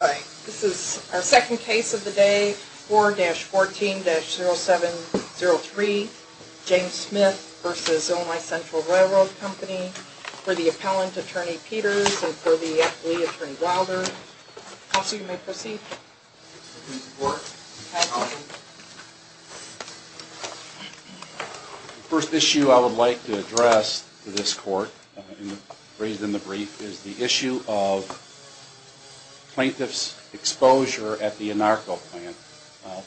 This is our second case of the day, 4-14-0703, James Smith v. Illinois Central Railroad Co., for the appellant, Attorney Peters, and for the athlete, Attorney Wilder. Counsel, you may proceed. The first issue I would like to address to this court, raised in the brief, is the issue of plaintiff's exposure at the Anarco plant,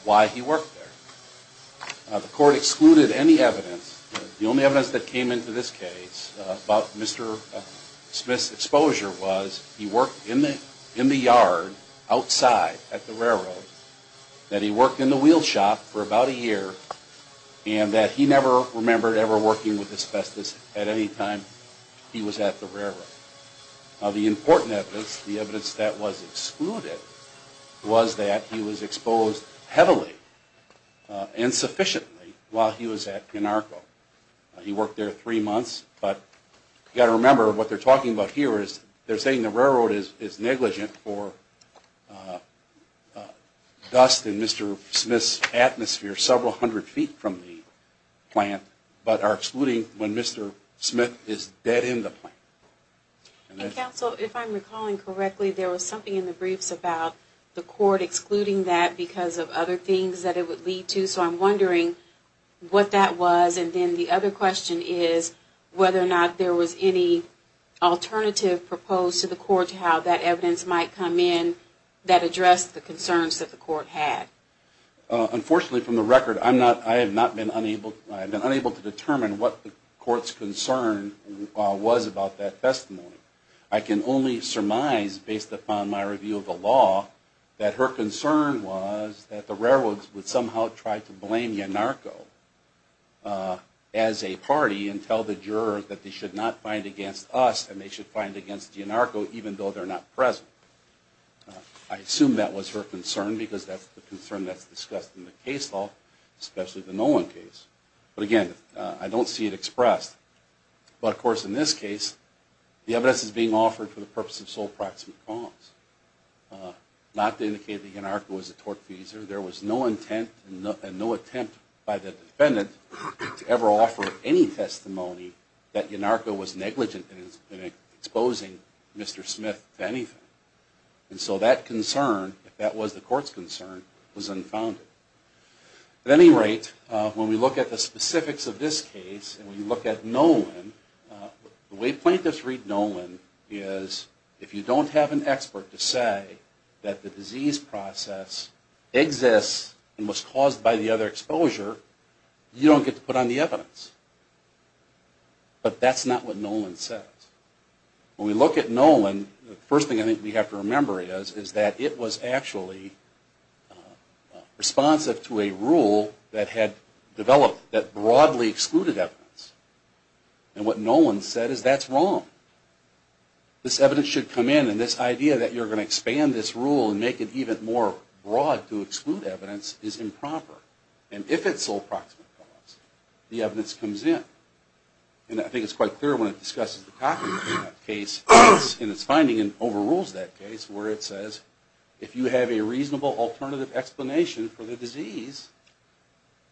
why he worked there. The court excluded any evidence, the only evidence that came into this case about Mr. Smith's exposure was he worked in the yard, outside at the railroad, that he worked in the wheel shop for about a year, and that he never remembered ever working with asbestos at any time he was at the railroad. The important evidence, the evidence that was excluded, was that he was exposed heavily, insufficiently, while he was at Anarco. He worked there three months, but you've got to remember what they're talking about here is they're saying the railroad is negligent for dust in Mr. Smith's atmosphere several hundred feet from the plant, but are excluding when Mr. Smith is dead in the plant. Counsel, if I'm recalling correctly, there was something in the briefs about the court excluding that because of other things that it would lead to, so I'm wondering what that was, and then the other question is whether or not there was any alternative proposed to the court to how that evidence might come in that addressed the concerns that the court had. Unfortunately, from the record, I'm not, I have not been unable, I've been unable to determine what the court's concern was about that testimony. I can only surmise, based upon my review of the law, that her concern was that the railroads would somehow try to blame Anarco as a party and tell the jurors that they should not find against us and they should find against Anarco even though they're not present. I assume that was her concern because that's the concern that's discussed in the case law, especially the Nolan case, but again, I don't see it expressed. But of course, in this case, the evidence is being offered for the purpose of sole proximate cause, not to indicate that Anarco was a tortfeasor. There was no intent and no attempt by the defendant to ever offer any testimony that Anarco was negligent in exposing Mr. Smith to anything, and so that concern, if that was the court's concern, was unfounded. At any rate, when we look at the specifics of this case and we look at Nolan, the way plaintiffs read Nolan is, if you don't have an expert to say that the disease process exists and was caused by the other exposure, you don't get to put on the evidence. But that's not what Nolan says. When we look at Nolan, the first thing I think we have to remember is that it was actually responsive to a rule that had developed that broadly excluded evidence. And what Nolan said is, that's wrong. This evidence should come in, and this idea that you're going to expand this rule and make it even more broad to exclude evidence is improper. And if it's sole proximate cause, the evidence comes in. And I think it's quite clear when it discusses the Cockney case in its finding and overrules that case where it says, if you have a reasonable alternative explanation for the disease,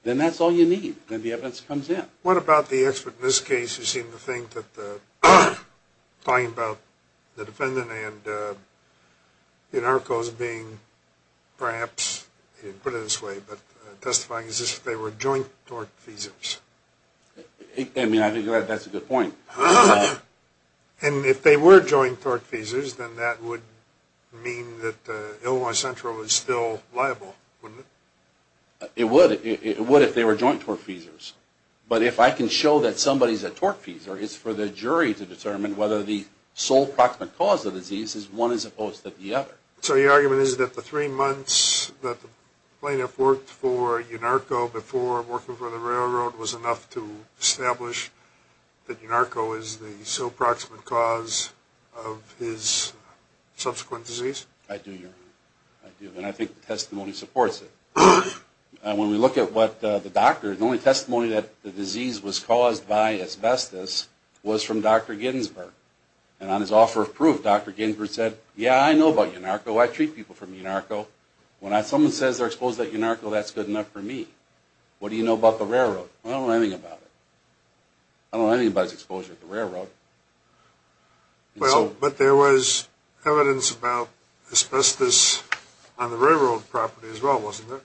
then that's all you need. Then the evidence comes in. What about the expert in this case who seemed to think that talking about the defendant and the anarchos being perhaps, put it this way, but testifying as if they were joint tort feasors? I mean, I think that's a good point. And if they were joint tort feasors, then that would mean that Illinois Central is still liable, wouldn't it? It would if they were joint tort feasors. But if I can show that somebody's a tort feasor, it's for the jury to determine whether the sole proximate cause of the disease is one as opposed to the other. So your argument is that the three months that the plaintiff worked for Yunarco before working for the railroad was enough to establish that Yunarco is the sole proximate cause of his subsequent disease? I do, Your Honor. I do. And I think the testimony supports it. When we look at what the doctor, the only testimony that the disease was caused by asbestos was from Dr. Ginsberg. And on his offer of proof, Dr. Ginsberg said, yeah, I know about Yunarco. I treat people from Yunarco. When someone says they're exposed to Yunarco, that's good enough for me. What do you know about the railroad? I don't know anything about it. I don't know anybody's exposure to the railroad. Well, but there was evidence about asbestos on the railroad property as well, wasn't there?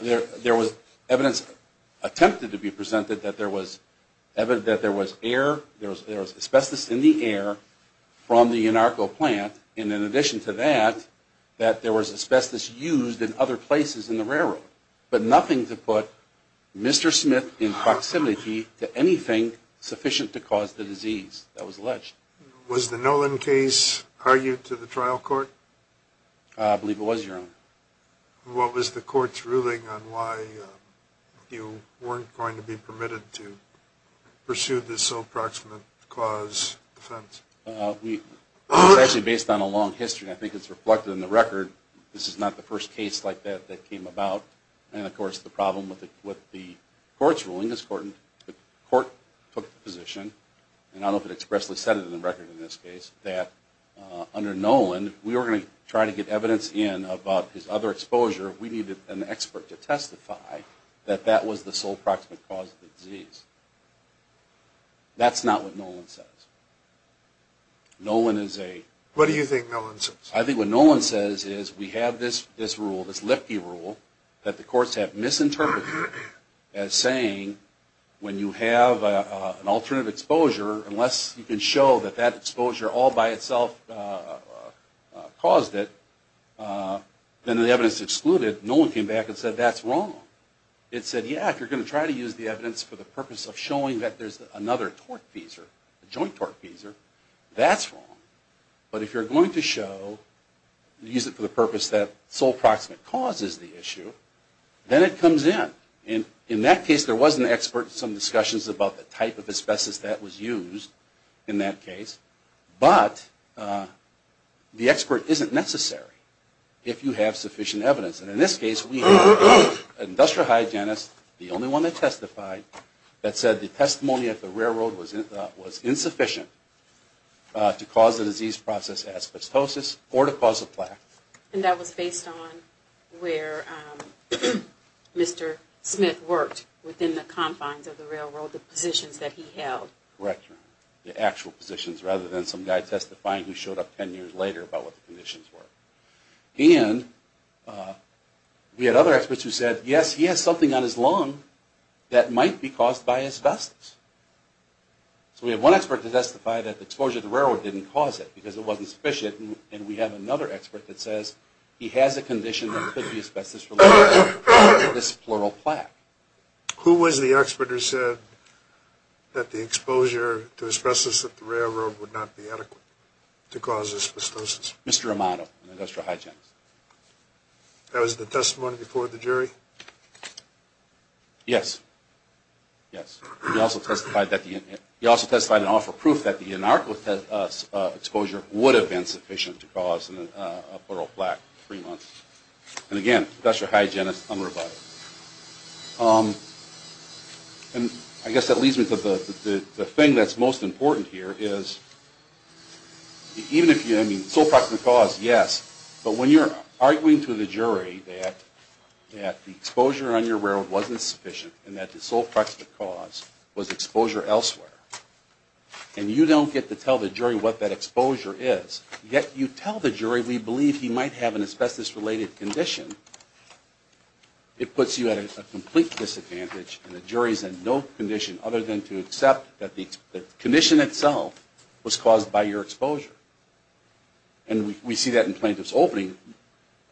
There was evidence attempted to be presented that there was asbestos in the air from the Yunarco plant. And in addition to that, that there was asbestos used in other places in the railroad. But nothing to put Mr. Smith in proximity to anything sufficient to cause the disease that was alleged. Was the Nolan case argued to the trial court? I believe it was, Your Honor. What was the court's ruling on why you weren't going to be permitted to pursue this sole proximate cause defense? It was actually based on a long history. I think it's reflected in the record. This is not the first case like that that came about. And, of course, the problem with the court's ruling is the court took the position, and I don't know if it expressly said it in the record in this case, that under Nolan, we were going to try to get evidence in about his other exposure. We needed an expert to testify that that was the sole proximate cause of the disease. That's not what Nolan says. Nolan is a... What do you think Nolan says? I think what Nolan says is we have this rule, this Lifty rule, that the courts have misinterpreted as saying when you have an alternative exposure, unless you can show that that exposure all by itself caused it, then the evidence is excluded. Nolan came back and said that's wrong. It said, yeah, if you're going to try to use the evidence for the purpose of showing that there's another torque feeser, a joint torque feeser, that's wrong. But if you're going to show, use it for the purpose that sole proximate cause is the issue, then it comes in. In that case, there was an expert in some discussions about the type of asbestos that was used in that case, but the expert isn't necessary if you have sufficient evidence. And in this case, we had an industrial hygienist, the only one that testified, that said the testimony at the railroad was insufficient to cause the disease process asbestosis or to cause a plaque. And that was based on where Mr. Smith worked within the confines of the railroad, the positions that he held. Correct. The actual positions rather than some guy testifying who showed up 10 years later about what the conditions were. And we had other experts who said, yes, he has something on his lung that might be caused by asbestos. So we have one expert to testify that the exposure to the railroad didn't cause it because it wasn't sufficient, and we have another expert that says he has a condition that could be asbestos related to this pleural plaque. Who was the expert who said that the exposure to asbestos at the railroad would not be adequate to cause asbestosis? Mr. Romano, an industrial hygienist. That was the testimony before the jury? Yes. Yes. He also testified and offered proof that the inarclative exposure would have been sufficient to cause a pleural plaque in three months. And again, industrial hygienist unrebutted. And I guess that leads me to the thing that's most important here is, even if you, I mean, sole proximate cause, yes. But when you're arguing to the jury that the exposure on your railroad wasn't sufficient and that the sole proximate cause was exposure elsewhere, and you don't get to tell the jury what that exposure is, yet you tell the jury we believe he might have an asbestos-related condition, it puts you at a complete disadvantage and the jury is in no condition other than to accept that the condition itself was caused by your exposure. And we see that in plaintiff's opening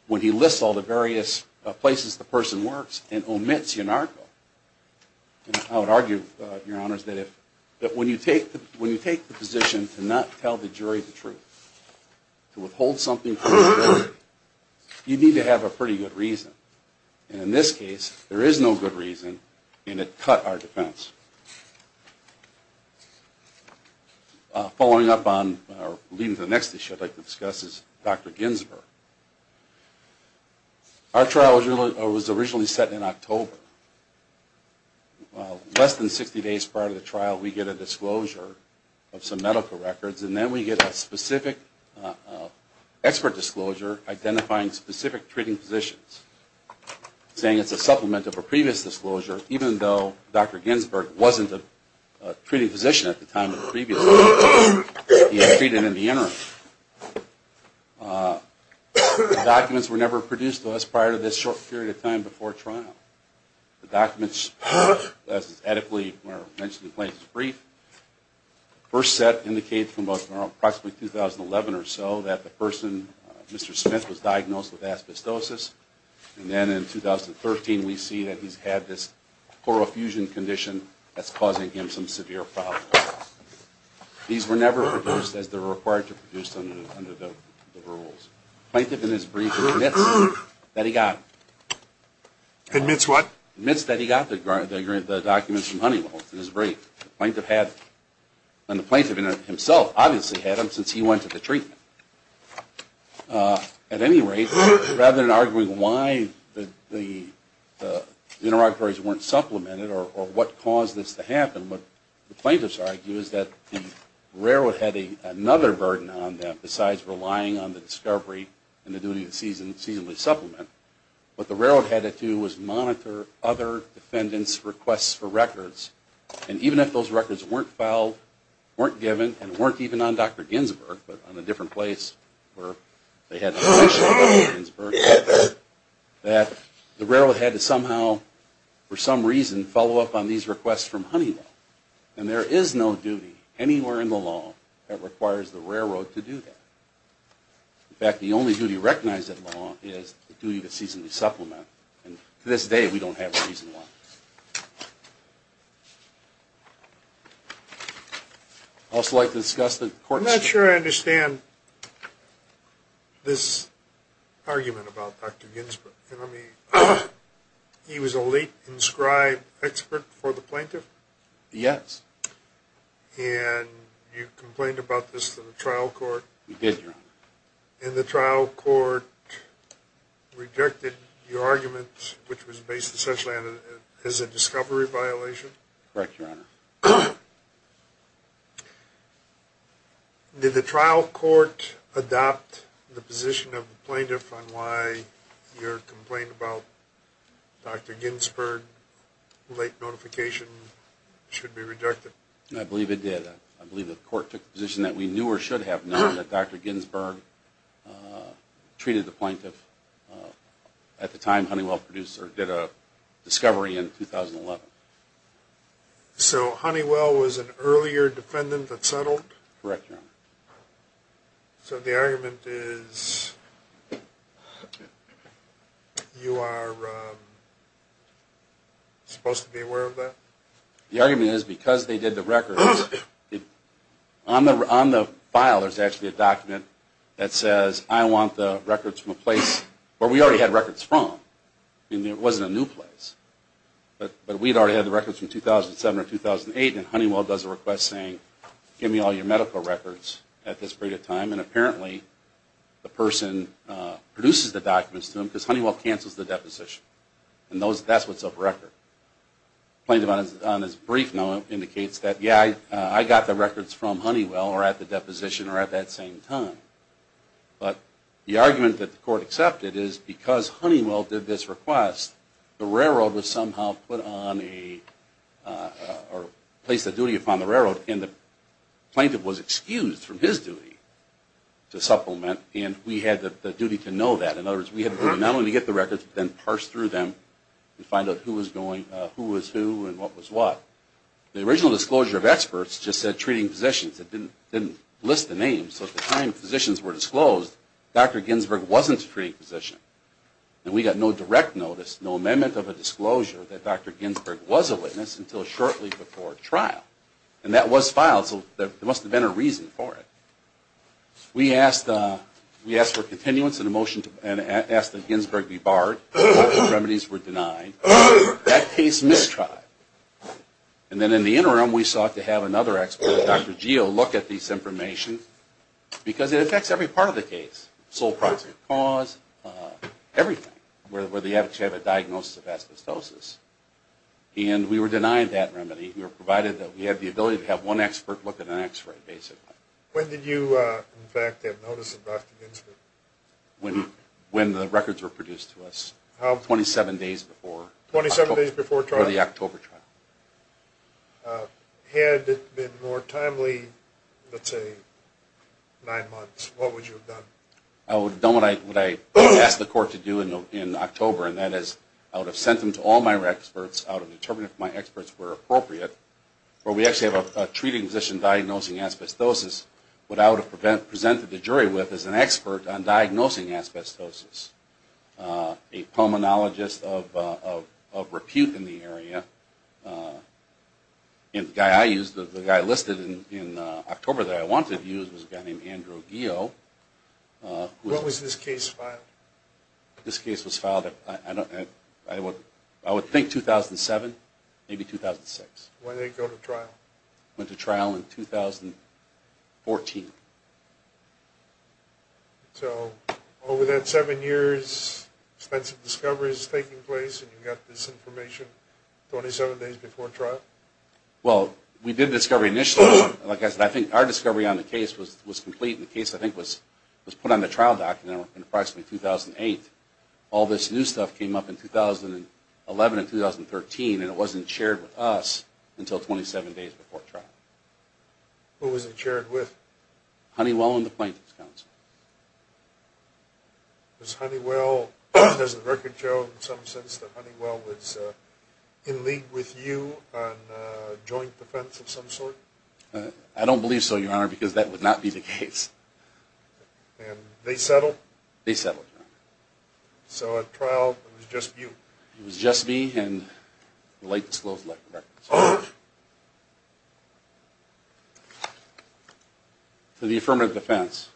when he lists all the various places the person works and omits IANARCO. And I would argue, Your Honors, that when you take the position to not tell the jury the truth, to withhold something from the jury, you need to have a pretty good reason. And in this case, there is no good reason, and it cut our defense. Following up on, or leading to the next issue I'd like to discuss is Dr. Ginsberg. Our trial was originally set in October. Less than 60 days prior to the trial, we get a disclosure of some medical records, and then we get a specific expert disclosure identifying specific treating physicians, saying it's a supplement of a previous disclosure, even though Dr. Ginsberg wasn't a treating physician at the time of the previous disclosure, he had treated in the interim. The documents were never produced to us prior to this short period of time before trial. The documents, as is ethically mentioned in the plaintiff's brief, the first set indicates from approximately 2011 or so that the person, Mr. Smith, was diagnosed with asbestosis, and then in 2013 we see that he's had this chlorofusion condition that's causing him some severe problems. These were never produced as they were required to be produced under the rules. The plaintiff in his brief admits that he got the documents from Honeywell in his brief. And the plaintiff himself obviously had them since he went to the treatment. At any rate, rather than arguing why the interrogatories weren't supplemented or what caused this to happen, what the plaintiffs argue is that the railroad had another burden on them besides relying on the discovery and the duty to seasonally supplement. What the railroad had to do was monitor other defendants' requests for records. And even if those records weren't filed, weren't given, and weren't even on Dr. Ginsberg, but on a different place where they had a physician named Dr. Ginsberg, that the railroad had to somehow, for some reason, follow up on these requests from Honeywell. And there is no duty anywhere in the law that requires the railroad to do that. In fact, the only duty recognized in law is the duty to seasonally supplement. And to this day we don't have a reason why. I'd also like to discuss the court's... Yes. And you complained about this to the trial court? We did, Your Honor. And the trial court rejected your argument, which was based essentially on it as a discovery violation? Correct, Your Honor. Did the trial court adopt the position of the plaintiff on why your complaint about Dr. Ginsberg's late notification should be rejected? I believe it did. I believe the court took the position that we knew or should have known that Dr. Ginsberg treated the plaintiff at the time Honeywell did a discovery in 2011. So Honeywell was an earlier defendant that settled? Correct, Your Honor. So the argument is you are supposed to be aware of that? The argument is because they did the records... On the file there's actually a document that says I want the records from a place where we already had records from. It wasn't a new place. But we'd already had the records from 2007 or 2008 and Honeywell does a request saying give me all your medical records at this period of time. And apparently the person produces the documents to him because Honeywell cancels the deposition. And that's what's of record. Plaintiff on his brief note indicates that yeah, I got the records from Honeywell or at the deposition or at that same time. But the argument that the court accepted is because Honeywell did this request, the railroad was somehow put on a... Or placed a duty upon the railroad and the plaintiff was excused from his duty to supplement and we had the duty to know that. In other words, we had to not only get the records but then parse through them and find out who was who and what was what. The original disclosure of experts just said treating physicians. It didn't list the names. So at the time physicians were disclosed, Dr. Ginsberg wasn't a treating physician. And we got no direct notice, no amendment of a disclosure that Dr. Ginsberg was a witness until shortly before trial. And that was filed so there must have been a reason for it. We asked for continuance of the motion and asked that Ginsberg be barred. Remedies were denied. That case mistried. And then in the interim we sought to have another expert, Dr. Geo, look at this information because it affects every part of the case. Sole proximate cause, everything where they actually have a diagnosis of asbestosis. And we were denied that remedy provided that we had the ability to have one expert look at an x-ray basically. When did you in fact have notice of Dr. Ginsberg? When the records were produced to us, 27 days before the October trial. Had it been more timely, let's say nine months, what would you have done? I would have done what I asked the court to do in October and that is I would have sent them to all my experts. I would have determined if my experts were appropriate. Where we actually have a treating physician diagnosing asbestosis, what I would have presented the jury with is an expert on diagnosing asbestosis. A pulmonologist of repute in the area. The guy I used, the guy listed in October that I wanted to use was a guy named Andrew Geo. When was this case filed? This case was filed, I would think 2007, maybe 2006. When did they go to trial? Went to trial in 2014. So over that seven years, extensive discovery is taking place and you got this information 27 days before trial? Well, we did discovery initially. Like I said, I think our discovery on the case was complete and the case I think was put on the trial document in approximately 2008. All this new stuff came up in 2011 and 2013 and it wasn't shared with us until 27 days before trial. Who was it shared with? Honeywell and the plaintiff's counsel. Was Honeywell, does the record show in some sense that Honeywell was in league with you on joint defense of some sort? I don't believe so, Your Honor, because that would not be the case. So at trial it was just you? It was just me and the light was closed. To the affirmative defense,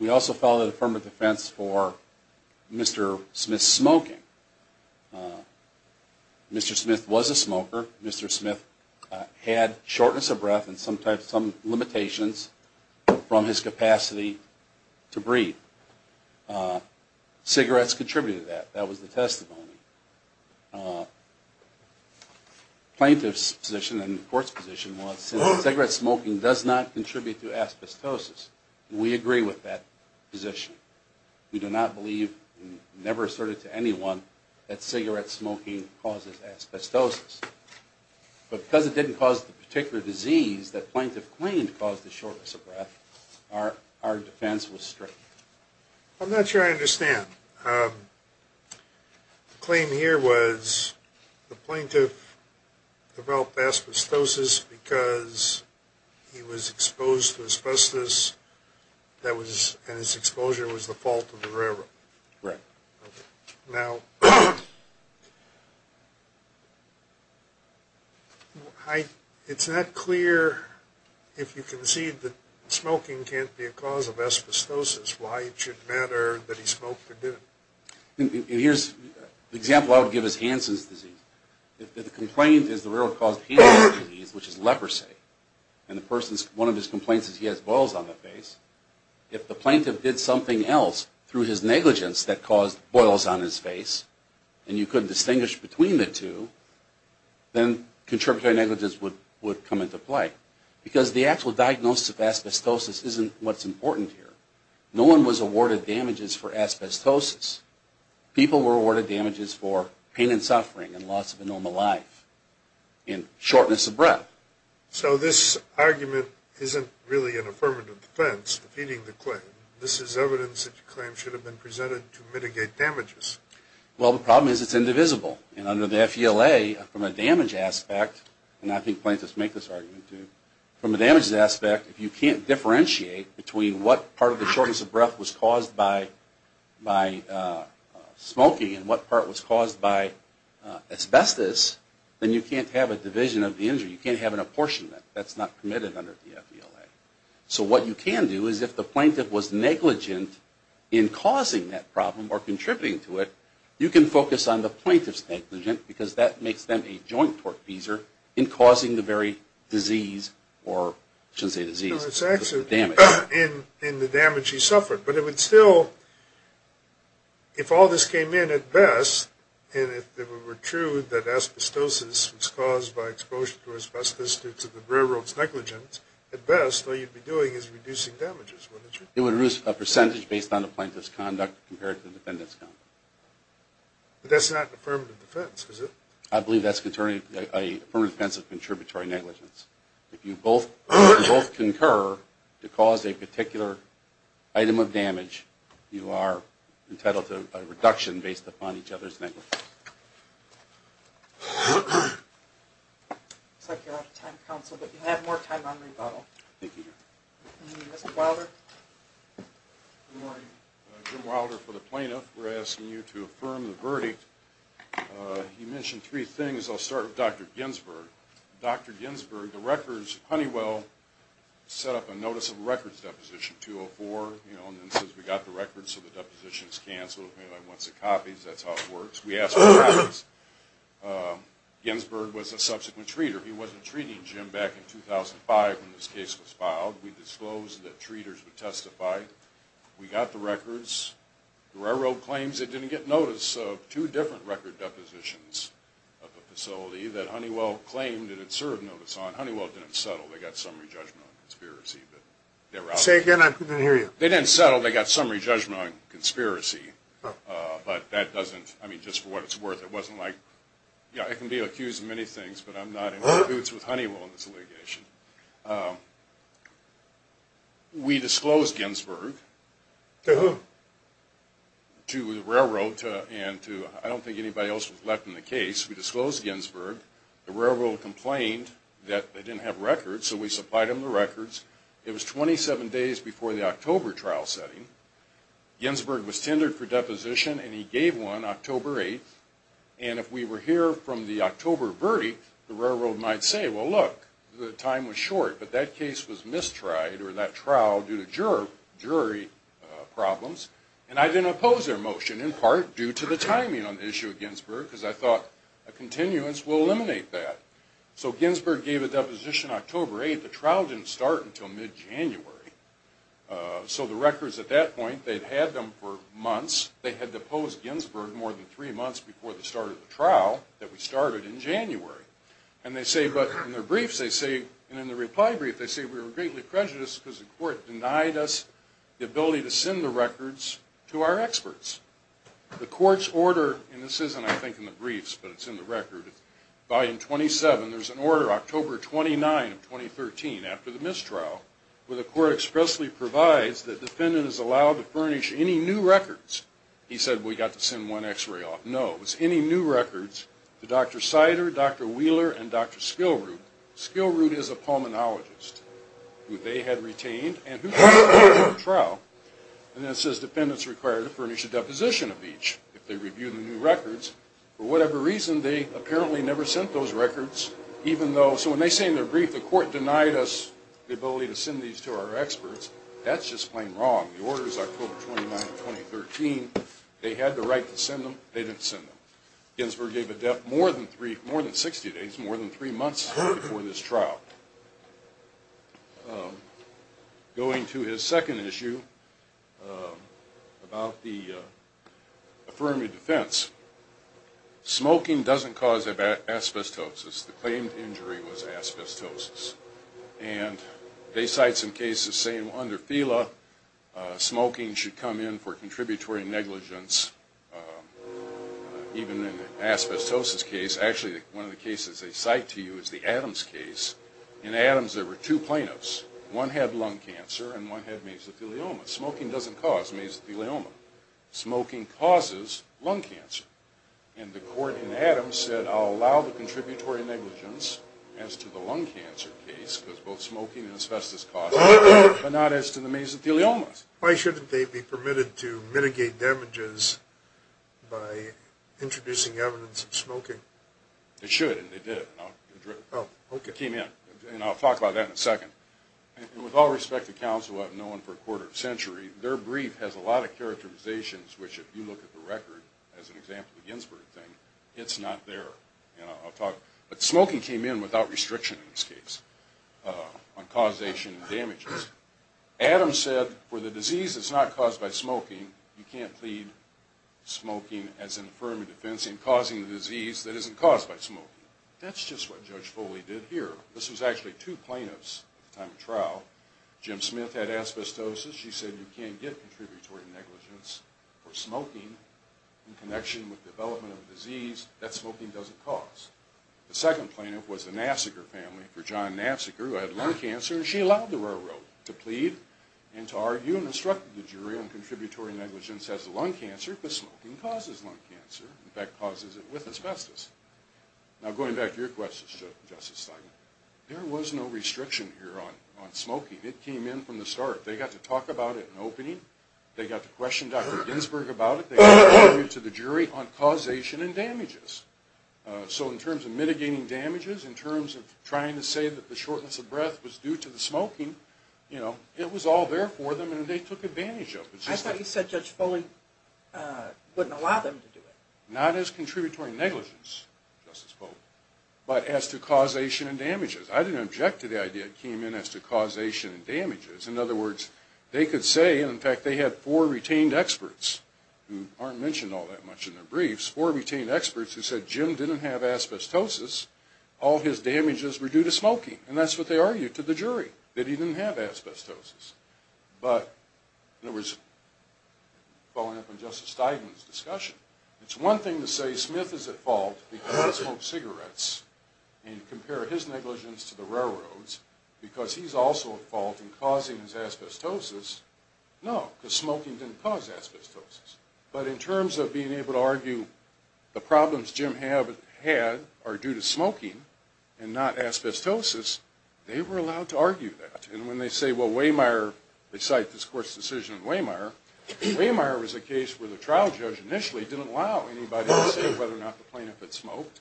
we also filed an affirmative defense for Mr. Smith's smoking. Mr. Smith was a smoker. Mr. Smith had shortness of breath and sometimes some limitations from his capacity to breathe. Cigarettes contributed to that. That was the testimony. Plaintiff's position and the court's position was that cigarette smoking does not contribute to asbestosis. We agree with that position. We do not believe, never asserted to anyone, that cigarette smoking causes asbestosis. But because it didn't cause the particular disease that plaintiff claimed caused the shortness of breath, our defense was straight. I'm not sure I understand. The claim here was the plaintiff developed asbestosis because he was exposed to asbestos and his exposure was the fault of the railroad. Right. Now, it's not clear if you concede that smoking can't be a cause of asbestosis. Why it should matter that he smoked or didn't. Here's an example I would give as Hansen's disease. If the complaint is the railroad caused Hansen's disease, which is leprosy, and one of his complaints is he has boils on his face, if the plaintiff did something else through his negligence that caused boils on his face, and you couldn't distinguish between the two, then contributory negligence would come into play. Because the actual diagnosis of asbestosis isn't what's important here. No one was awarded damages for asbestosis. People were awarded damages for pain and suffering and loss of a normal life and shortness of breath. So this argument isn't really an affirmative defense, defeating the claim. This is evidence that the claim should have been presented to mitigate damages. Well, the problem is it's indivisible. And under the FVLA, from a damage aspect, and I think plaintiffs make this argument too, from a damages aspect, if you can't differentiate between what part of the shortness of breath was caused by smoking and what part was caused by asbestos, then you can't have a division of the injury. You can't have an apportionment. That's not permitted under the FVLA. So what you can do is if the plaintiff was negligent in causing that problem or contributing to it, you can focus on the plaintiff's negligence because that makes them a joint tortfeasor in causing the very disease, or I shouldn't say disease, but the damage. In the damage he suffered. But it would still, if all this came in at best, and if it were true that asbestosis was caused by exposure to asbestos due to the railroad's negligence, at best all you'd be doing is reducing damages, wouldn't you? It would reduce a percentage based on the plaintiff's conduct compared to the defendant's conduct. But that's not an affirmative defense, is it? I believe that's an affirmative defense of contributory negligence. If you both concur to cause a particular item of damage, you are entitled to a reduction based upon each other's negligence. Looks like you're out of time, counsel, but you have more time on rebuttal. Jim Wilder for the plaintiff. We're asking you to affirm the verdict. You mentioned three things. We asked Dr. Ginsberg, the records, Honeywell set up a notice of records deposition, 204, and it says we got the records so the depositions cancel. Once it copies, that's how it works. We asked for copies. Ginsberg was a subsequent treater. He wasn't treating Jim back in 2005 when this case was filed. We disclosed that treaters would testify. We got the records. The railroad claims they didn't get notice of two different record depositions of the facility that Honeywell claimed it had served notice on. Honeywell didn't settle. They got summary judgment on conspiracy. They didn't settle. They got summary judgment on conspiracy. I can be accused of many things, but I'm not in any boots with Honeywell in this litigation. We disclosed Ginsberg to the railroad. I don't think anybody else was left in the case. We disclosed Ginsberg. The railroad complained that they didn't have records, so we supplied them the records. It was 27 days before the October trial setting. Ginsberg was tendered for deposition, and he gave one October 8th. If we were here from the October verdict, the railroad might say, well, look, the time was short, but that case was mistried or that trial due to jury problems. I didn't oppose their motion, in part due to the timing on the issue of Ginsberg, because I thought a continuance will eliminate that. So Ginsberg gave a deposition October 8th. The trial didn't start until mid-January. So the records at that point, they'd had them for months. They had deposed Ginsberg more than three months before the start of the trial that we started in January. And in the reply brief, they say we were greatly prejudiced because the court denied us the ability to send the records to our experts. The court's order, and this isn't, I think, in the briefs, but it's in the record, volume 27, there's an order October 29, 2013, after the mistrial, where the court expressly provides that the defendant is allowed to furnish any new records. He said, we got to send one x-ray off. No. It was any new records to Dr. Sider, Dr. Wheeler, and Dr. Skillroot. Skillroot is a pulmonologist who they had retained and who was ordered to the trial. And then it says defendants required to furnish a deposition of each if they reviewed the new records. For whatever reason, they apparently never sent those records. So when they say in their brief, the court denied us the ability to send these to our experts, that's just plain wrong. The order is October 29, 2013. They had the right to send them. They didn't send them. Ginsburg gave a death more than 60 days, more than three months before this trial. Going to his second issue about the affirmative defense, smoking doesn't cause asbestosis. The claimed injury was asbestosis. And they cite some cases saying under FELA, smoking should come in for contributory negligence, even in the asbestosis case. Actually, one of the cases they cite to you is the Adams case. In Adams, there were two plaintiffs. One had lung cancer and one had mesothelioma. Smoking doesn't cause mesothelioma. Smoking causes lung cancer. And the court in Adams said, I'll allow the contributory negligence as to the lung cancer case, because both smoking and asbestos cause it, but not as to the mesotheliomas. Why shouldn't they be permitted to mitigate damages by introducing evidence of smoking? They should, and they did. And I'll talk about that in a second. And with all respect to counsel I've known for a quarter of a century, their brief has a lot of characterizations, which if you look at the record, as an example of the Ginsburg thing, it's not there. But smoking came in without restriction in this case on causation and damages. Adams said, for the disease that's not caused by smoking, you can't plead smoking as an affirmative defense in causing the disease that isn't caused by smoking. That's just what Judge Foley did here. This was actually two plaintiffs at the time of trial. Jim Smith had asbestosis. She said, you can't get contributory negligence for smoking in connection with development of the disease that smoking doesn't cause. The second plaintiff was the Nassiger family for John Nassiger, who had lung cancer, and she allowed the railroad to plead and to argue and instructed the jury on contributory negligence as to lung cancer, because smoking causes lung cancer, in fact causes it with asbestos. Now going back to your question, Justice Steinman, there was no restriction here on smoking. It came in from the start. They got to talk about it in opening. They got to question Dr. Ginsburg about it. They got to argue to the jury on causation and damages. So in terms of mitigating damages, in terms of trying to say that the shortness of breath was due to the smoking, you know, it was all there for them and they took advantage of it. I thought you said Judge Foley wouldn't allow them to do it. Not as contributory negligence, Justice Foley, but as to causation and damages. I didn't object to the idea that came in as to causation and damages. In other words, they could say, and in fact they had four retained experts, who aren't mentioned all that much in their briefs, four retained experts who said Jim didn't have asbestosis. All his damages were due to smoking, and that's what they argued to the jury, that he didn't have asbestosis. But, in other words, following up on Justice Steigman's discussion, it's one thing to say Smith is at fault because he smoked cigarettes and compare his negligence to the railroads because he's also at fault in causing his asbestosis. No, because smoking didn't cause asbestosis. But in terms of being able to argue the problems Jim had are due to smoking and not asbestosis, they were allowed to argue that. And when they say, well, Wehmeyer, they cite this court's decision on Wehmeyer, Wehmeyer was a case where the trial judge initially didn't allow anybody to say whether or not the plaintiff had smoked,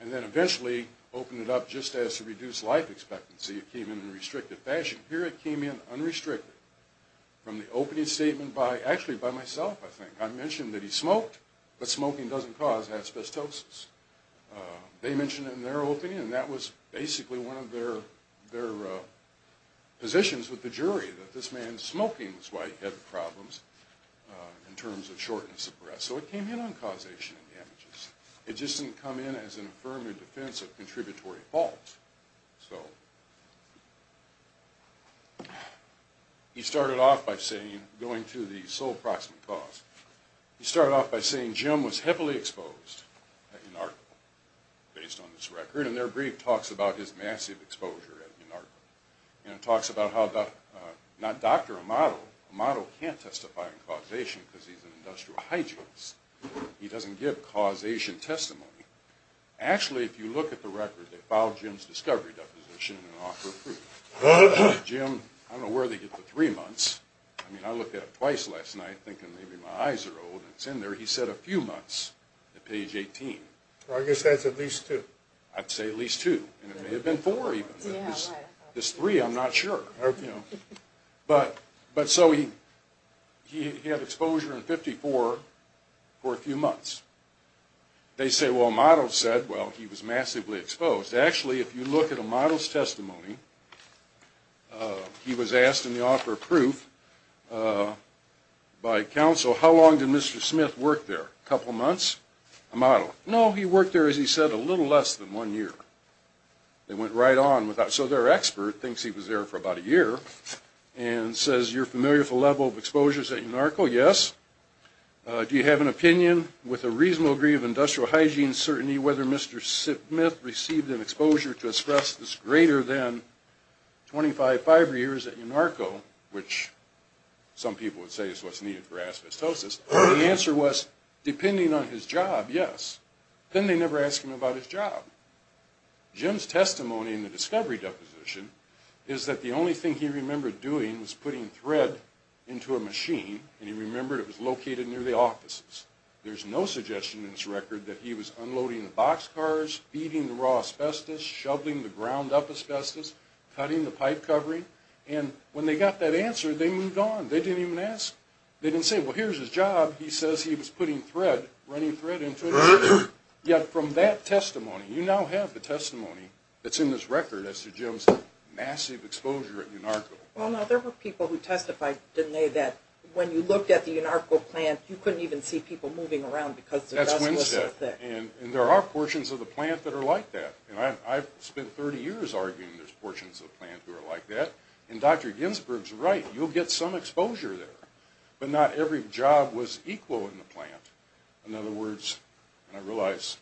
and then eventually opened it up just as to reduce life expectancy. It came in in a restricted fashion. Here it came in unrestricted from the opening statement by, actually by myself, I think. I mentioned that he smoked, but smoking doesn't cause asbestosis. They mentioned it in their opening, and that was basically one of their positions with the jury, that this man smoking was why he had the problems in terms of shortness of breath. So it came in on causation and damages. It just didn't come in as an affirmative defense of contributory fault. So, he started off by saying, going to the sole proximate cause, he started off by saying Jim was heavily exposed at UNARCO, based on this record, and their brief talks about his massive exposure at UNARCO. And it talks about how, not Dr. Amato, Amato can't testify on causation because he's an industrial hygienist. He doesn't give causation testimony. Actually, if you look at the record, they filed Jim's discovery deposition and offer proof. Jim, I don't know where they get the three months. I mean, I looked at it twice last night, thinking maybe my eyes are old, and it's in there. He said a few months, at page 18. I guess that's at least two. I'd say at least two, and it may have been four even. This three, I'm not sure. But, so he had exposure in 54 for a few months. They say, well, Amato said, well, he was massively exposed. Actually, if you look at Amato's testimony, he was asked in the offer of proof by counsel, how long did Mr. Smith work there? A couple months? Amato, no, he worked there, as he said, a little less than one year. They went right on. So their expert thinks he was there for about a year and says, you're familiar with the level of exposures at UNARCO? Yes. Do you have an opinion, with a reasonable degree of industrial hygiene certainty, whether Mr. Smith received an exposure to express this greater than 25 fiber years at UNARCO, which some people would say is what's needed for asbestosis? The answer was, depending on his job, yes. Then they never asked him about his job. Jim's testimony in the discovery deposition is that the only thing he remembered doing was putting thread into a machine, and he remembered it was located near the offices. There's no suggestion in his record that he was unloading the boxcars, feeding the raw asbestos, shoveling the ground up asbestos, cutting the pipe covering. And when they got that answer, they moved on. They didn't even ask. They didn't say, well, here's his job. He says he was putting thread, running thread into it. Yet from that testimony, you now have the testimony that's in this record as to Jim's massive exposure at UNARCO. Well, now, there were people who testified, didn't they, that when you looked at the UNARCO plant, you couldn't even see people moving around because the dust was so thick. That's Winstead. And there are portions of the plant that are like that. And I've spent 30 years arguing there's portions of the plant who are like that. And Dr. Ginsberg's right. You'll get some exposure there. But not every job was equal in the plant. In other words, and I realize,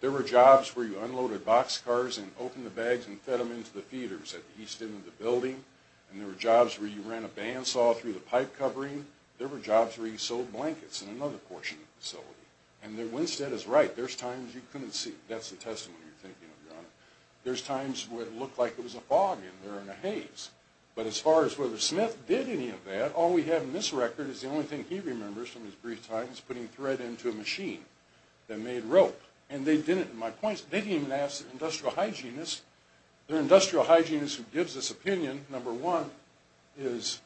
there were jobs where you unloaded boxcars and opened the bags and fed them into the feeders at the east end of the building. And there were jobs where you ran a bandsaw through the pipe covering. There were jobs where you sewed blankets in another portion of the facility. And Winstead is right. There's times you couldn't see. That's the testimony you're thinking of, Your Honor. There's times where it looked like there was a fog in there and a haze. But as far as whether Smith did any of that, all we have in this record is the only thing he remembers from his brief time is putting thread into a machine that made rope. My point is they didn't even ask the industrial hygienist. The industrial hygienist who gives this opinion, number one, doesn't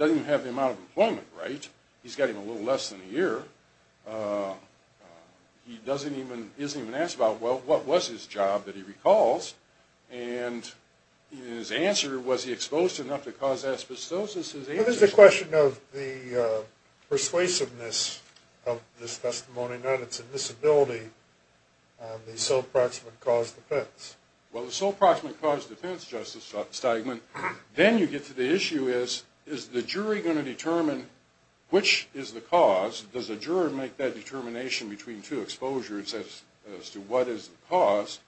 even have the amount of employment, right? He's got even a little less than a year. He isn't even asked about, well, what was his job that he recalls? And his answer, was he exposed enough to cause asbestosis? Well, there's a question of the persuasiveness of this testimony, not its admissibility of the sole proximate cause defense. Well, the sole proximate cause defense, Justice Steigman, then you get to the issue is, is the jury going to determine which is the cause? Does the juror make that determination between two exposures as to what is the cause?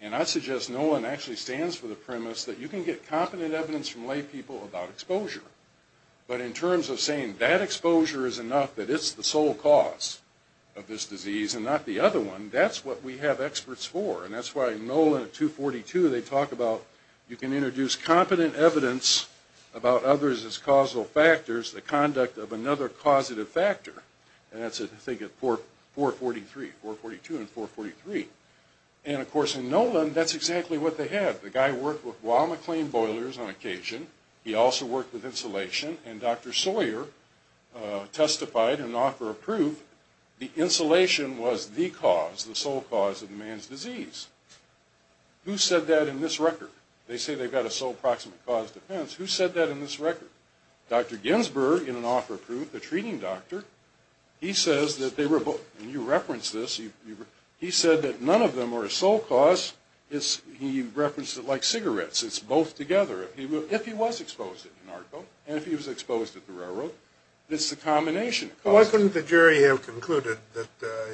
And I suggest Nolan actually stands for the premise that you can get competent evidence from lay people about exposure. But in terms of saying that exposure is enough, that it's the sole cause of this disease and not the other one, that's what we have experts for. And that's why Nolan at 242, they talk about you can introduce competent evidence about others as causal factors, the conduct of another causative factor. And that's, I think, at 443, 442 and 443. And, of course, in Nolan, that's exactly what they had. The guy worked with Bois McLean boilers on occasion. He also worked with insulation. And Dr. Sawyer testified in an offer of proof the insulation was the cause, the sole cause of man's disease. Who said that in this record? They say they've got a sole proximate cause defense. Who said that in this record? Dr. Ginsberg, in an offer of proof, the treating doctor, he says that they were both, and you referenced this, he said that none of them were a sole cause. He referenced it like cigarettes. It's both together. If he was exposed at UNARCO and if he was exposed at the railroad, it's the combination of causes. Well, why couldn't the jury have concluded that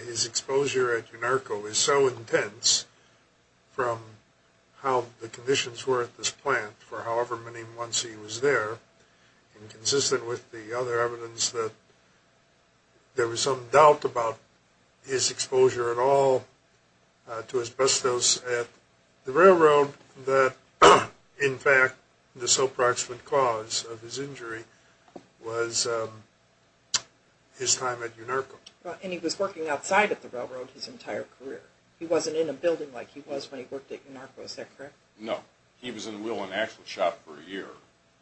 his exposure at UNARCO is so intense from how the conditions were at this plant for however many months he was there, and consistent with the other evidence that there was some doubt about his exposure at all to asbestos at the railroad, that, in fact, the sole proximate cause of his injury was his time at UNARCO. And he was working outside at the railroad his entire career. He wasn't in a building like he was when he worked at UNARCO, is that correct? No. He was in the wheel and axle shop for a year.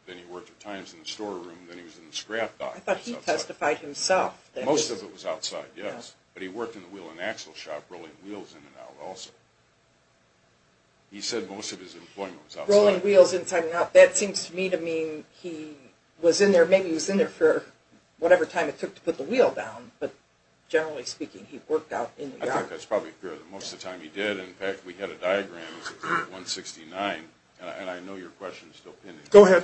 Then he worked at times in the storeroom, then he was in the scrap dock. I thought he testified himself. Most of it was outside, yes. But he worked in the wheel and axle shop rolling wheels in and out also. He said most of his employment was outside. Rolling wheels inside and out. That seems to me to mean he was in there, maybe he was in there for whatever time it took to put the wheel down, but generally speaking, he worked out in the yard. I think that's probably true. Most of the time he did. In fact, we had a diagram. It's at 169. And I know your question is still pending. Go ahead.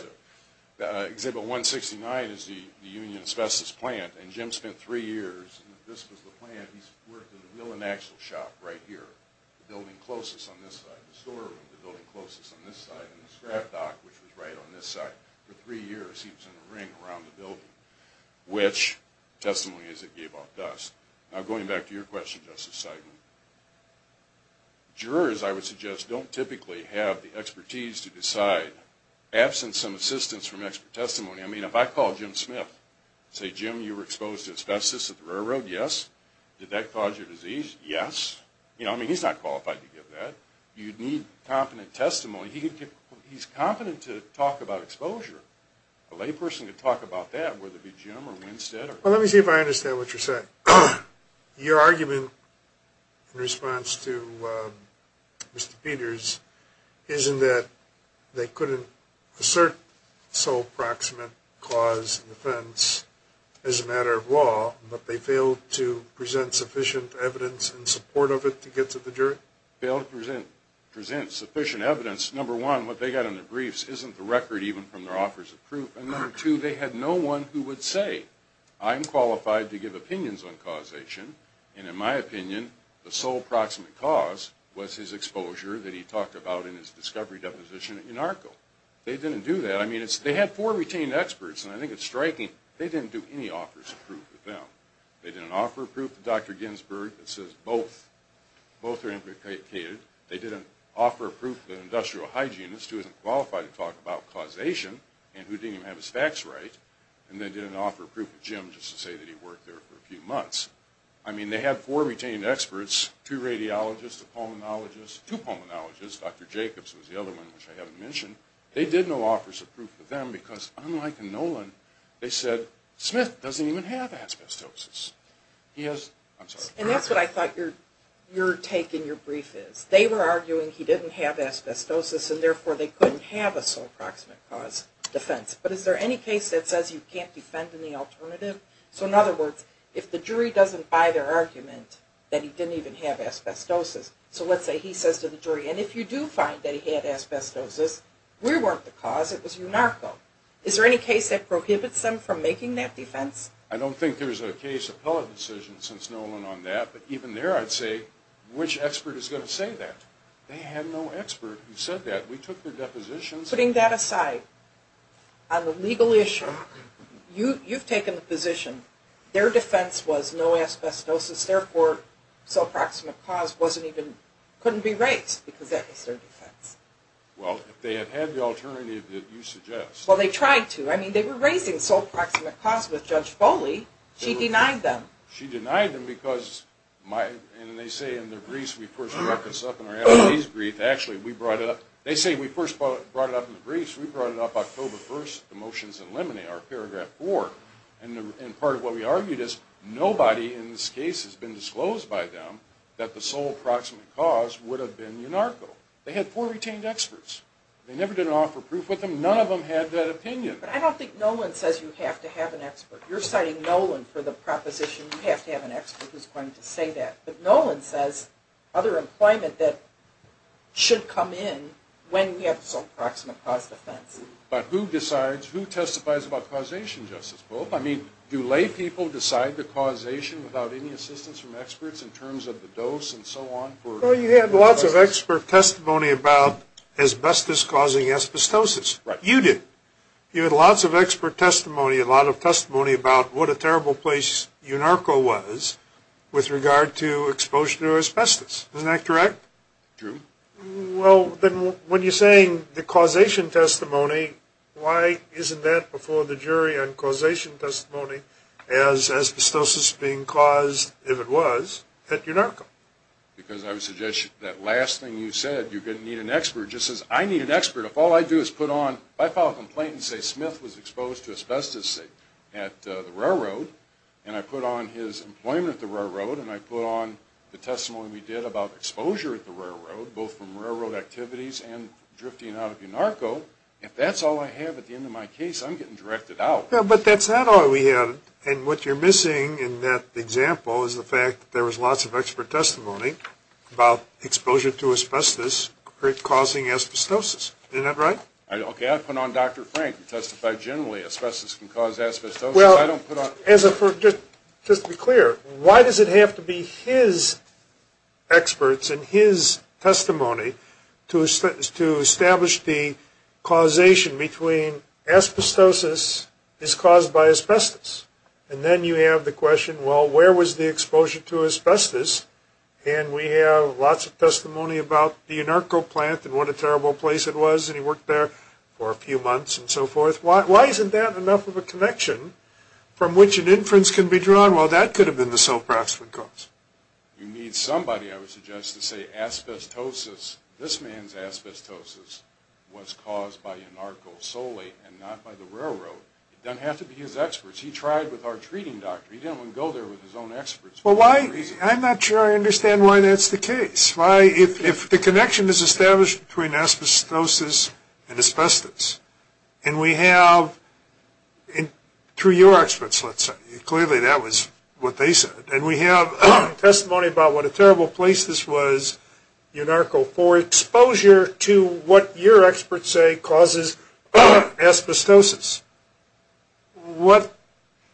Exhibit 169 is the Union asbestos plant. And Jim spent three years. This was the plant. He worked in the wheel and axle shop right here, the building closest on this side. The storeroom, the building closest on this side. And the scrap dock, which was right on this side. For three years he was in the ring around the building, which testimony is it gave off dust. Now, going back to your question, Justice Seidman, jurors, I would suggest, don't typically have the expertise to decide, absent some assistance from expert testimony. I mean, if I call Jim Smith and say, Jim, you were exposed to asbestos at the railroad, yes. Did that cause your disease? Yes. You know, I mean, he's not qualified to give that. You'd need competent testimony. He's competent to talk about exposure. A layperson could talk about that, whether it be Jim or Winstead. Well, let me see if I understand what you're saying. Your argument in response to Mr. Peters isn't that they couldn't assert sole proximate cause and offense as a matter of law, but they failed to present sufficient evidence in support of it to get to the jury? Failed to present sufficient evidence. Number one, what they got in their briefs isn't the record even from their offers of proof. And number two, they had no one who would say, I'm qualified to give opinions on causation, and in my opinion, the sole proximate cause was his exposure that he talked about in his discovery deposition at UNARCO. They didn't do that. I mean, they had four retained experts, and I think it's striking. They didn't do any offers of proof to them. They didn't offer proof to Dr. Ginsberg that says both are implicated. They didn't offer proof to an industrial hygienist who isn't qualified to talk about causation and who didn't even have his facts right. And they didn't offer proof to Jim just to say that he worked there for a few months. I mean, they had four retained experts, two radiologists, a pulmonologist, two pulmonologists, Dr. Jacobs was the other one which I haven't mentioned. They did no offers of proof to them because, unlike in Nolan, they said, Smith doesn't even have asbestosis. And that's what I thought your take in your brief is. They were arguing he didn't have asbestosis, and therefore they couldn't have a sole proximate cause defense. But is there any case that says you can't defend any alternative? So in other words, if the jury doesn't buy their argument that he didn't even have asbestosis, so let's say he says to the jury, and if you do find that he had asbestosis, we weren't the cause, it was UNARCO. Is there any case that prohibits them from making that defense? I don't think there's a case appellate decision since Nolan on that. But even there I'd say, which expert is going to say that? They had no expert who said that. We took their depositions. Putting that aside, on the legal issue, you've taken the position their defense was no asbestosis, therefore sole proximate cause couldn't be raised because that was their defense. Well, if they had had the alternative that you suggest. Well, they tried to. I mean, they were raising sole proximate cause with Judge Foley. She denied them. She denied them because, and they say in their briefs, we first brought this up in our L.A.'s brief. Actually, we brought it up, they say we first brought it up in the briefs. We brought it up October 1st, the motions in limine, our paragraph 4. And part of what we argued is nobody in this case has been disclosed by them that the sole proximate cause would have been UNARCO. They had four retained experts. They never did offer proof with them. None of them had that opinion. But I don't think Nolan says you have to have an expert. You're citing Nolan for the proposition. You have to have an expert who's going to say that. But Nolan says other employment that should come in when we have sole proximate cause defense. But who decides, who testifies about causation, Justice Pope? I mean, do lay people decide the causation without any assistance from experts in terms of the dose and so on? Well, you had lots of expert testimony about asbestos causing asbestosis. You did. You had lots of expert testimony, a lot of testimony about what a terrible place UNARCO was with regard to exposure to asbestos. Isn't that correct? True. Well, then when you're saying the causation testimony, why isn't that before the jury on causation testimony as asbestosis being caused, if it was, at UNARCO? Because I would suggest that last thing you said, you're going to need an expert, just as I need an expert. If all I do is put on, if I file a complaint and say Smith was exposed to asbestos at the railroad and I put on his employment at the railroad and I put on the testimony we did about exposure at the railroad, both from railroad activities and drifting out of UNARCO, if that's all I have at the end of my case, I'm getting directed out. Yeah, but that's not all we have. And what you're missing in that example is the fact that there was lots of expert testimony about exposure to asbestos causing asbestosis. Isn't that right? Okay, I put on Dr. Frank who testified generally asbestos can cause asbestosis. Well, just to be clear, why does it have to be his experts and his testimony to establish the causation between asbestosis is caused by asbestos? And then you have the question, well, where was the exposure to asbestos? And we have lots of testimony about the UNARCO plant and what a terrible place it was, and he worked there for a few months and so forth. Why isn't that enough of a connection from which an inference can be drawn? Well, that could have been the cell craftsman's cause. You need somebody, I would suggest, to say asbestosis, this man's asbestosis was caused by UNARCO solely and not by the railroad. It doesn't have to be his experts. He tried with our treating doctor. He didn't want to go there with his own experts. Well, I'm not sure I understand why that's the case. If the connection is established between asbestosis and asbestos, and we have, through your experts, let's say, clearly that was what they said, and we have testimony about what a terrible place this was, UNARCO, for exposure to what your experts say causes asbestosis.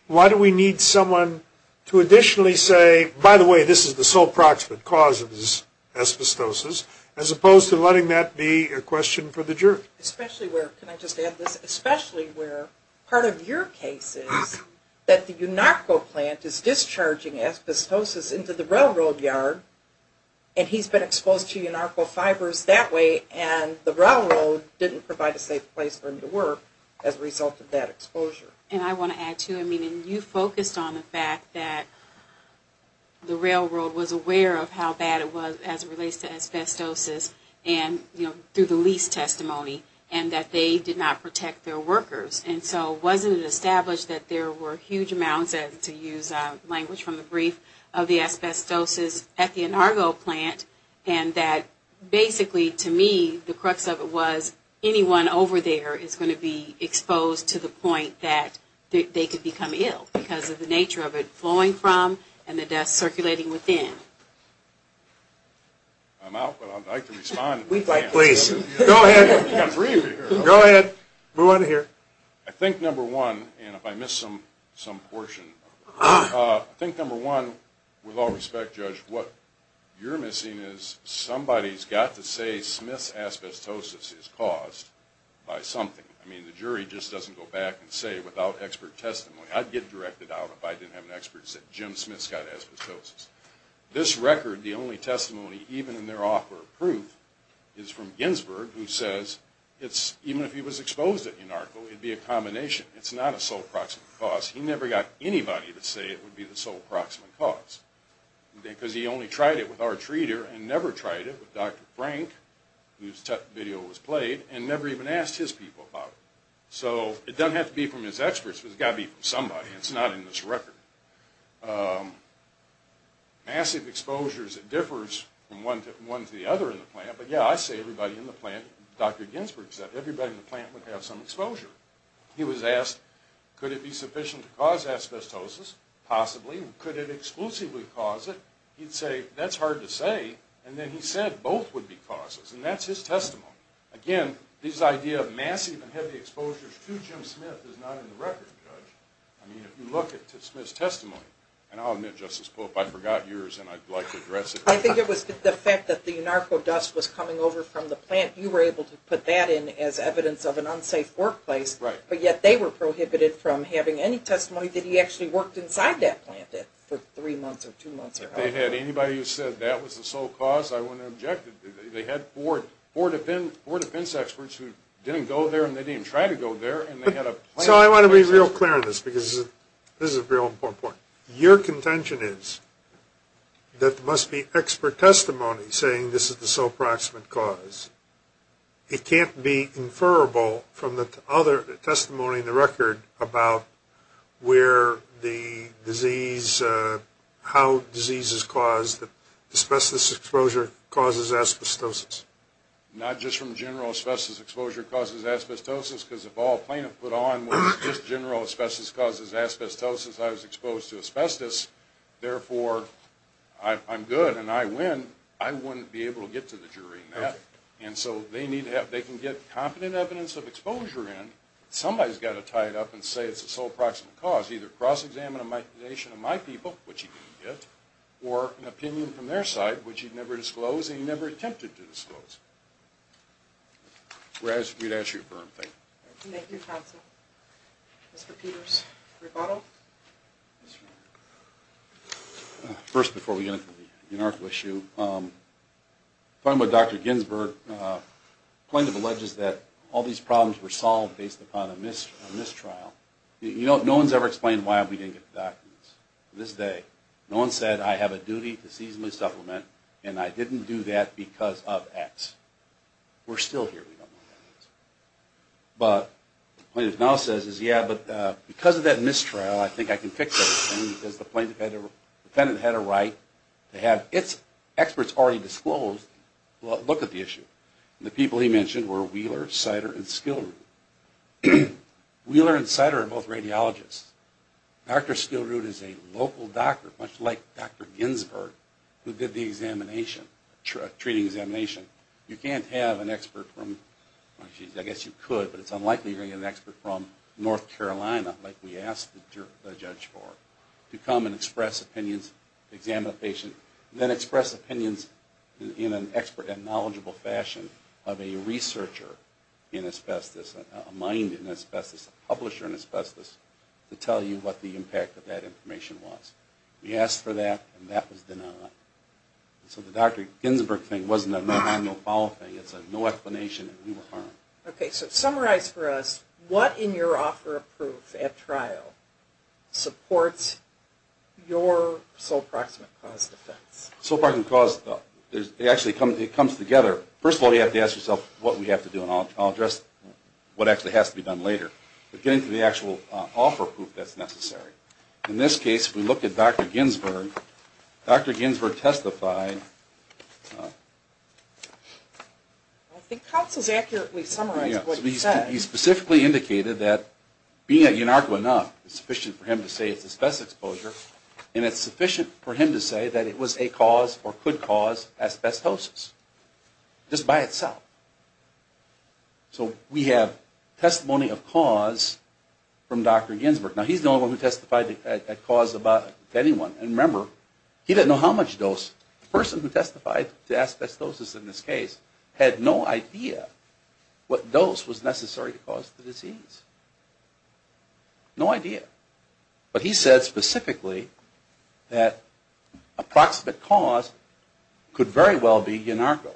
Why do we need someone to additionally say, by the way, this is the cell craftsman's cause of his asbestosis, as opposed to letting that be a question for the jury? Especially where, can I just add this, especially where part of your case is that the UNARCO plant is discharging asbestosis into the railroad yard, and he's been exposed to UNARCO fibers that way, and the railroad didn't provide a safe place for him to work as a result of that exposure. And I want to add, too, I mean, you focused on the fact that the railroad was aware of how bad it was as it relates to asbestosis, and, you know, through the lease testimony, and that they did not protect their workers. And so wasn't it established that there were huge amounts, to use language from the brief, of the asbestosis at the UNARCO plant, and that basically, to me, the crux of it was, anyone over there is going to be exposed to the point that they could become ill because of the nature of it flowing from and the dust circulating within. I'm out, but I'd like to respond. Go ahead. Go ahead. Move on to here. I think, number one, and if I missed some portion, I think, number one, with all respect, Judge, what you're missing is somebody's got to say Smith's asbestosis is caused by something. I mean, the jury just doesn't go back and say without expert testimony. I'd get directed out if I didn't have an expert that said Jim Smith's got asbestosis. This record, the only testimony, even in their offer of proof, is from Ginsberg, who says even if he was exposed at UNARCO, it would be a combination. It's not a sole proximate cause. He never got anybody to say it would be the sole proximate cause because he only tried it with our treater and never tried it with Dr. Frank, whose video was played, and never even asked his people about it. So it doesn't have to be from his experts, but it's got to be from somebody. It's not in this record. Massive exposures, it differs from one to the other in the plant, but yeah, I say everybody in the plant, Dr. Ginsberg said, everybody in the plant would have some exposure. He was asked, could it be sufficient to cause asbestosis? Possibly. Could it exclusively cause it? He'd say, that's hard to say, and then he said both would be causes, and that's his testimony. Again, this idea of massive and heavy exposures to Jim Smith is not in the record, Judge. I mean, if you look at Smith's testimony, and I'll admit, Justice Pope, I forgot yours, and I'd like to address it. I think it was the fact that the narco dust was coming over from the plant. You were able to put that in as evidence of an unsafe workplace, but yet they were prohibited from having any testimony that he actually worked inside that plant for three months or two months or however long. If they had anybody who said that was the sole cause, I wouldn't object. They had four defense experts who didn't go there, and they didn't try to go there. So I want to be real clear on this, because this is a real important point. Your contention is that there must be expert testimony saying this is the sole proximate cause. It can't be inferable from the other testimony in the record about where the disease, how disease is caused, that asbestos exposure causes asbestosis. Not just from general asbestos exposure causes asbestosis, because if all plaintiff put on was just general asbestos causes asbestosis, I was exposed to asbestos. Therefore, I'm good and I win. I wouldn't be able to get to the jury in that. And so they can get competent evidence of exposure in. Somebody's got to tie it up and say it's the sole proximate cause, either cross-examination of my people, which he didn't get, or an opinion from their side, which he never disclosed and he never attempted to disclose. We're asking you to ask your firm, thank you. Thank you, counsel. Mr. Peters, rebuttal? First, before we get into the inarticulate issue, talking about Dr. Ginsburg, plaintiff alleges that all these problems were solved based upon a mistrial. No one's ever explained why we didn't get the documents. To this day, no one's said I have a duty to seasonally supplement and I didn't do that because of X. We're still here. But the plaintiff now says, yeah, but because of that mistrial, I think I can fix it. The defendant had a right to have experts already disclosed look at the issue. The people he mentioned were Wheeler, Sider, and Skillroot. Wheeler and Sider are both radiologists. Dr. Skillroot is a local doctor, much like Dr. Ginsburg, who did the examination, treating examination. You can't have an expert from, I guess you could, but it's unlikely you're going to get an expert from North Carolina, like we asked the judge for, to come and express opinions, examine a patient, then express opinions in an expert and knowledgeable fashion of a researcher in asbestos, a mind in asbestos, a publisher in asbestos, to tell you what the impact of that information was. We asked for that, and that was denied. So the Dr. Ginsburg thing wasn't a manual follow-up thing. It's a no explanation and we were harmed. Okay, so summarize for us what in your offer of proof at trial supports your sole proximate cause defense. Sole proximate cause, it actually comes together. First of all, you have to ask yourself what we have to do, and I'll address what actually has to be done later, but getting to the actual offer proof that's necessary. In this case, we look at Dr. Ginsburg. Dr. Ginsburg testified. I think Counsel's accurately summarized what he said. He specifically indicated that being a INARCO enough is sufficient for him to say it's asbestos exposure and it's sufficient for him to say that it was a cause or could cause asbestosis just by itself. So we have testimony of cause from Dr. Ginsburg. Now, he's the only one who testified at cause to anyone. And remember, he didn't know how much dose. The person who testified to asbestosis in this case had no idea what dose was necessary to cause the disease, no idea. But he said specifically that a proximate cause could very well be INARCO.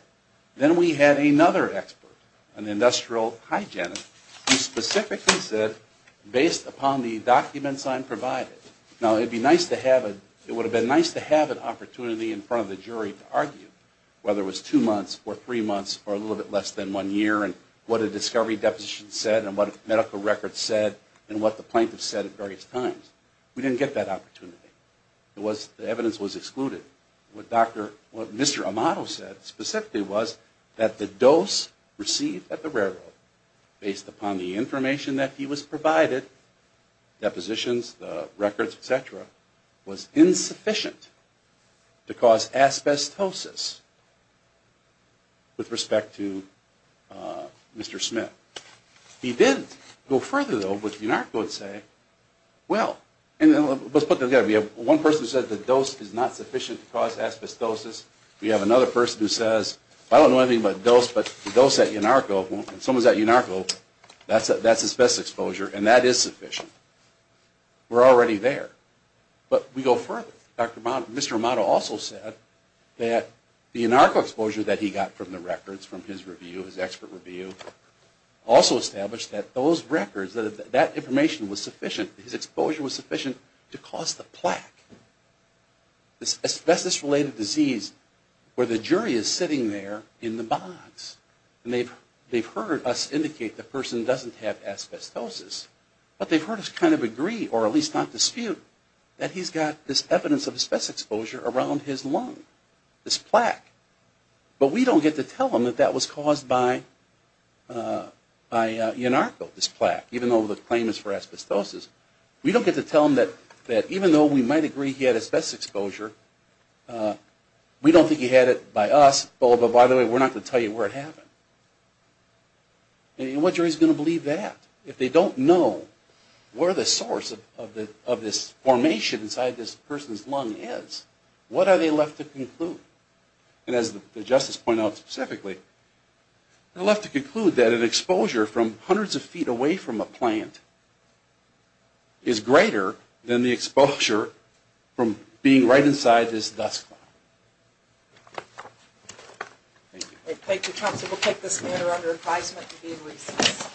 Then we had another expert, an industrial hygienist, who specifically said based upon the documents I'm provided. Now, it would have been nice to have an opportunity in front of the jury to argue whether it was two months or three months or a little bit less than one year and what a discovery deposition said and what medical records said and what the plaintiff said at various times. We didn't get that opportunity. The evidence was excluded. What Mr. Amato said specifically was that the dose received at the railroad based upon the information that he was provided, depositions, the records, et cetera, was insufficient to cause asbestosis with respect to Mr. Smith. He did go further, though, with INARCO and say, well, let's put it together. We have one person who said the dose is not sufficient to cause asbestosis. We have another person who says, I don't know anything about dose, but the dose at INARCO, someone's at INARCO, that's asbestos exposure, and that is sufficient. We're already there. But we go further. Mr. Amato also said that the INARCO exposure that he got from the records, from his review, his expert review, also established that those records, that information was sufficient, his exposure was sufficient to cause the plaque, this asbestos-related disease where the jury is sitting there in the box. And they've heard us indicate the person doesn't have asbestosis, but they've heard us kind of agree, or at least not dispute, that he's got this evidence of asbestos exposure around his lung, this plaque. But we don't get to tell them that that was caused by INARCO, this plaque, even though the claim is for asbestosis. We don't get to tell them that even though we might agree he had asbestos exposure, we don't think he had it by us. Oh, but by the way, we're not going to tell you where it happened. And what jury is going to believe that? If they don't know where the source of this formation inside this person's lung is, what are they left to conclude? And as the Justice pointed out specifically, they're left to conclude that an exposure from hundreds of feet away from a plant is greater than the exposure from being right inside this dust cloud. Thank you. Thank you, Council. We'll take this matter under advisement to be in recess.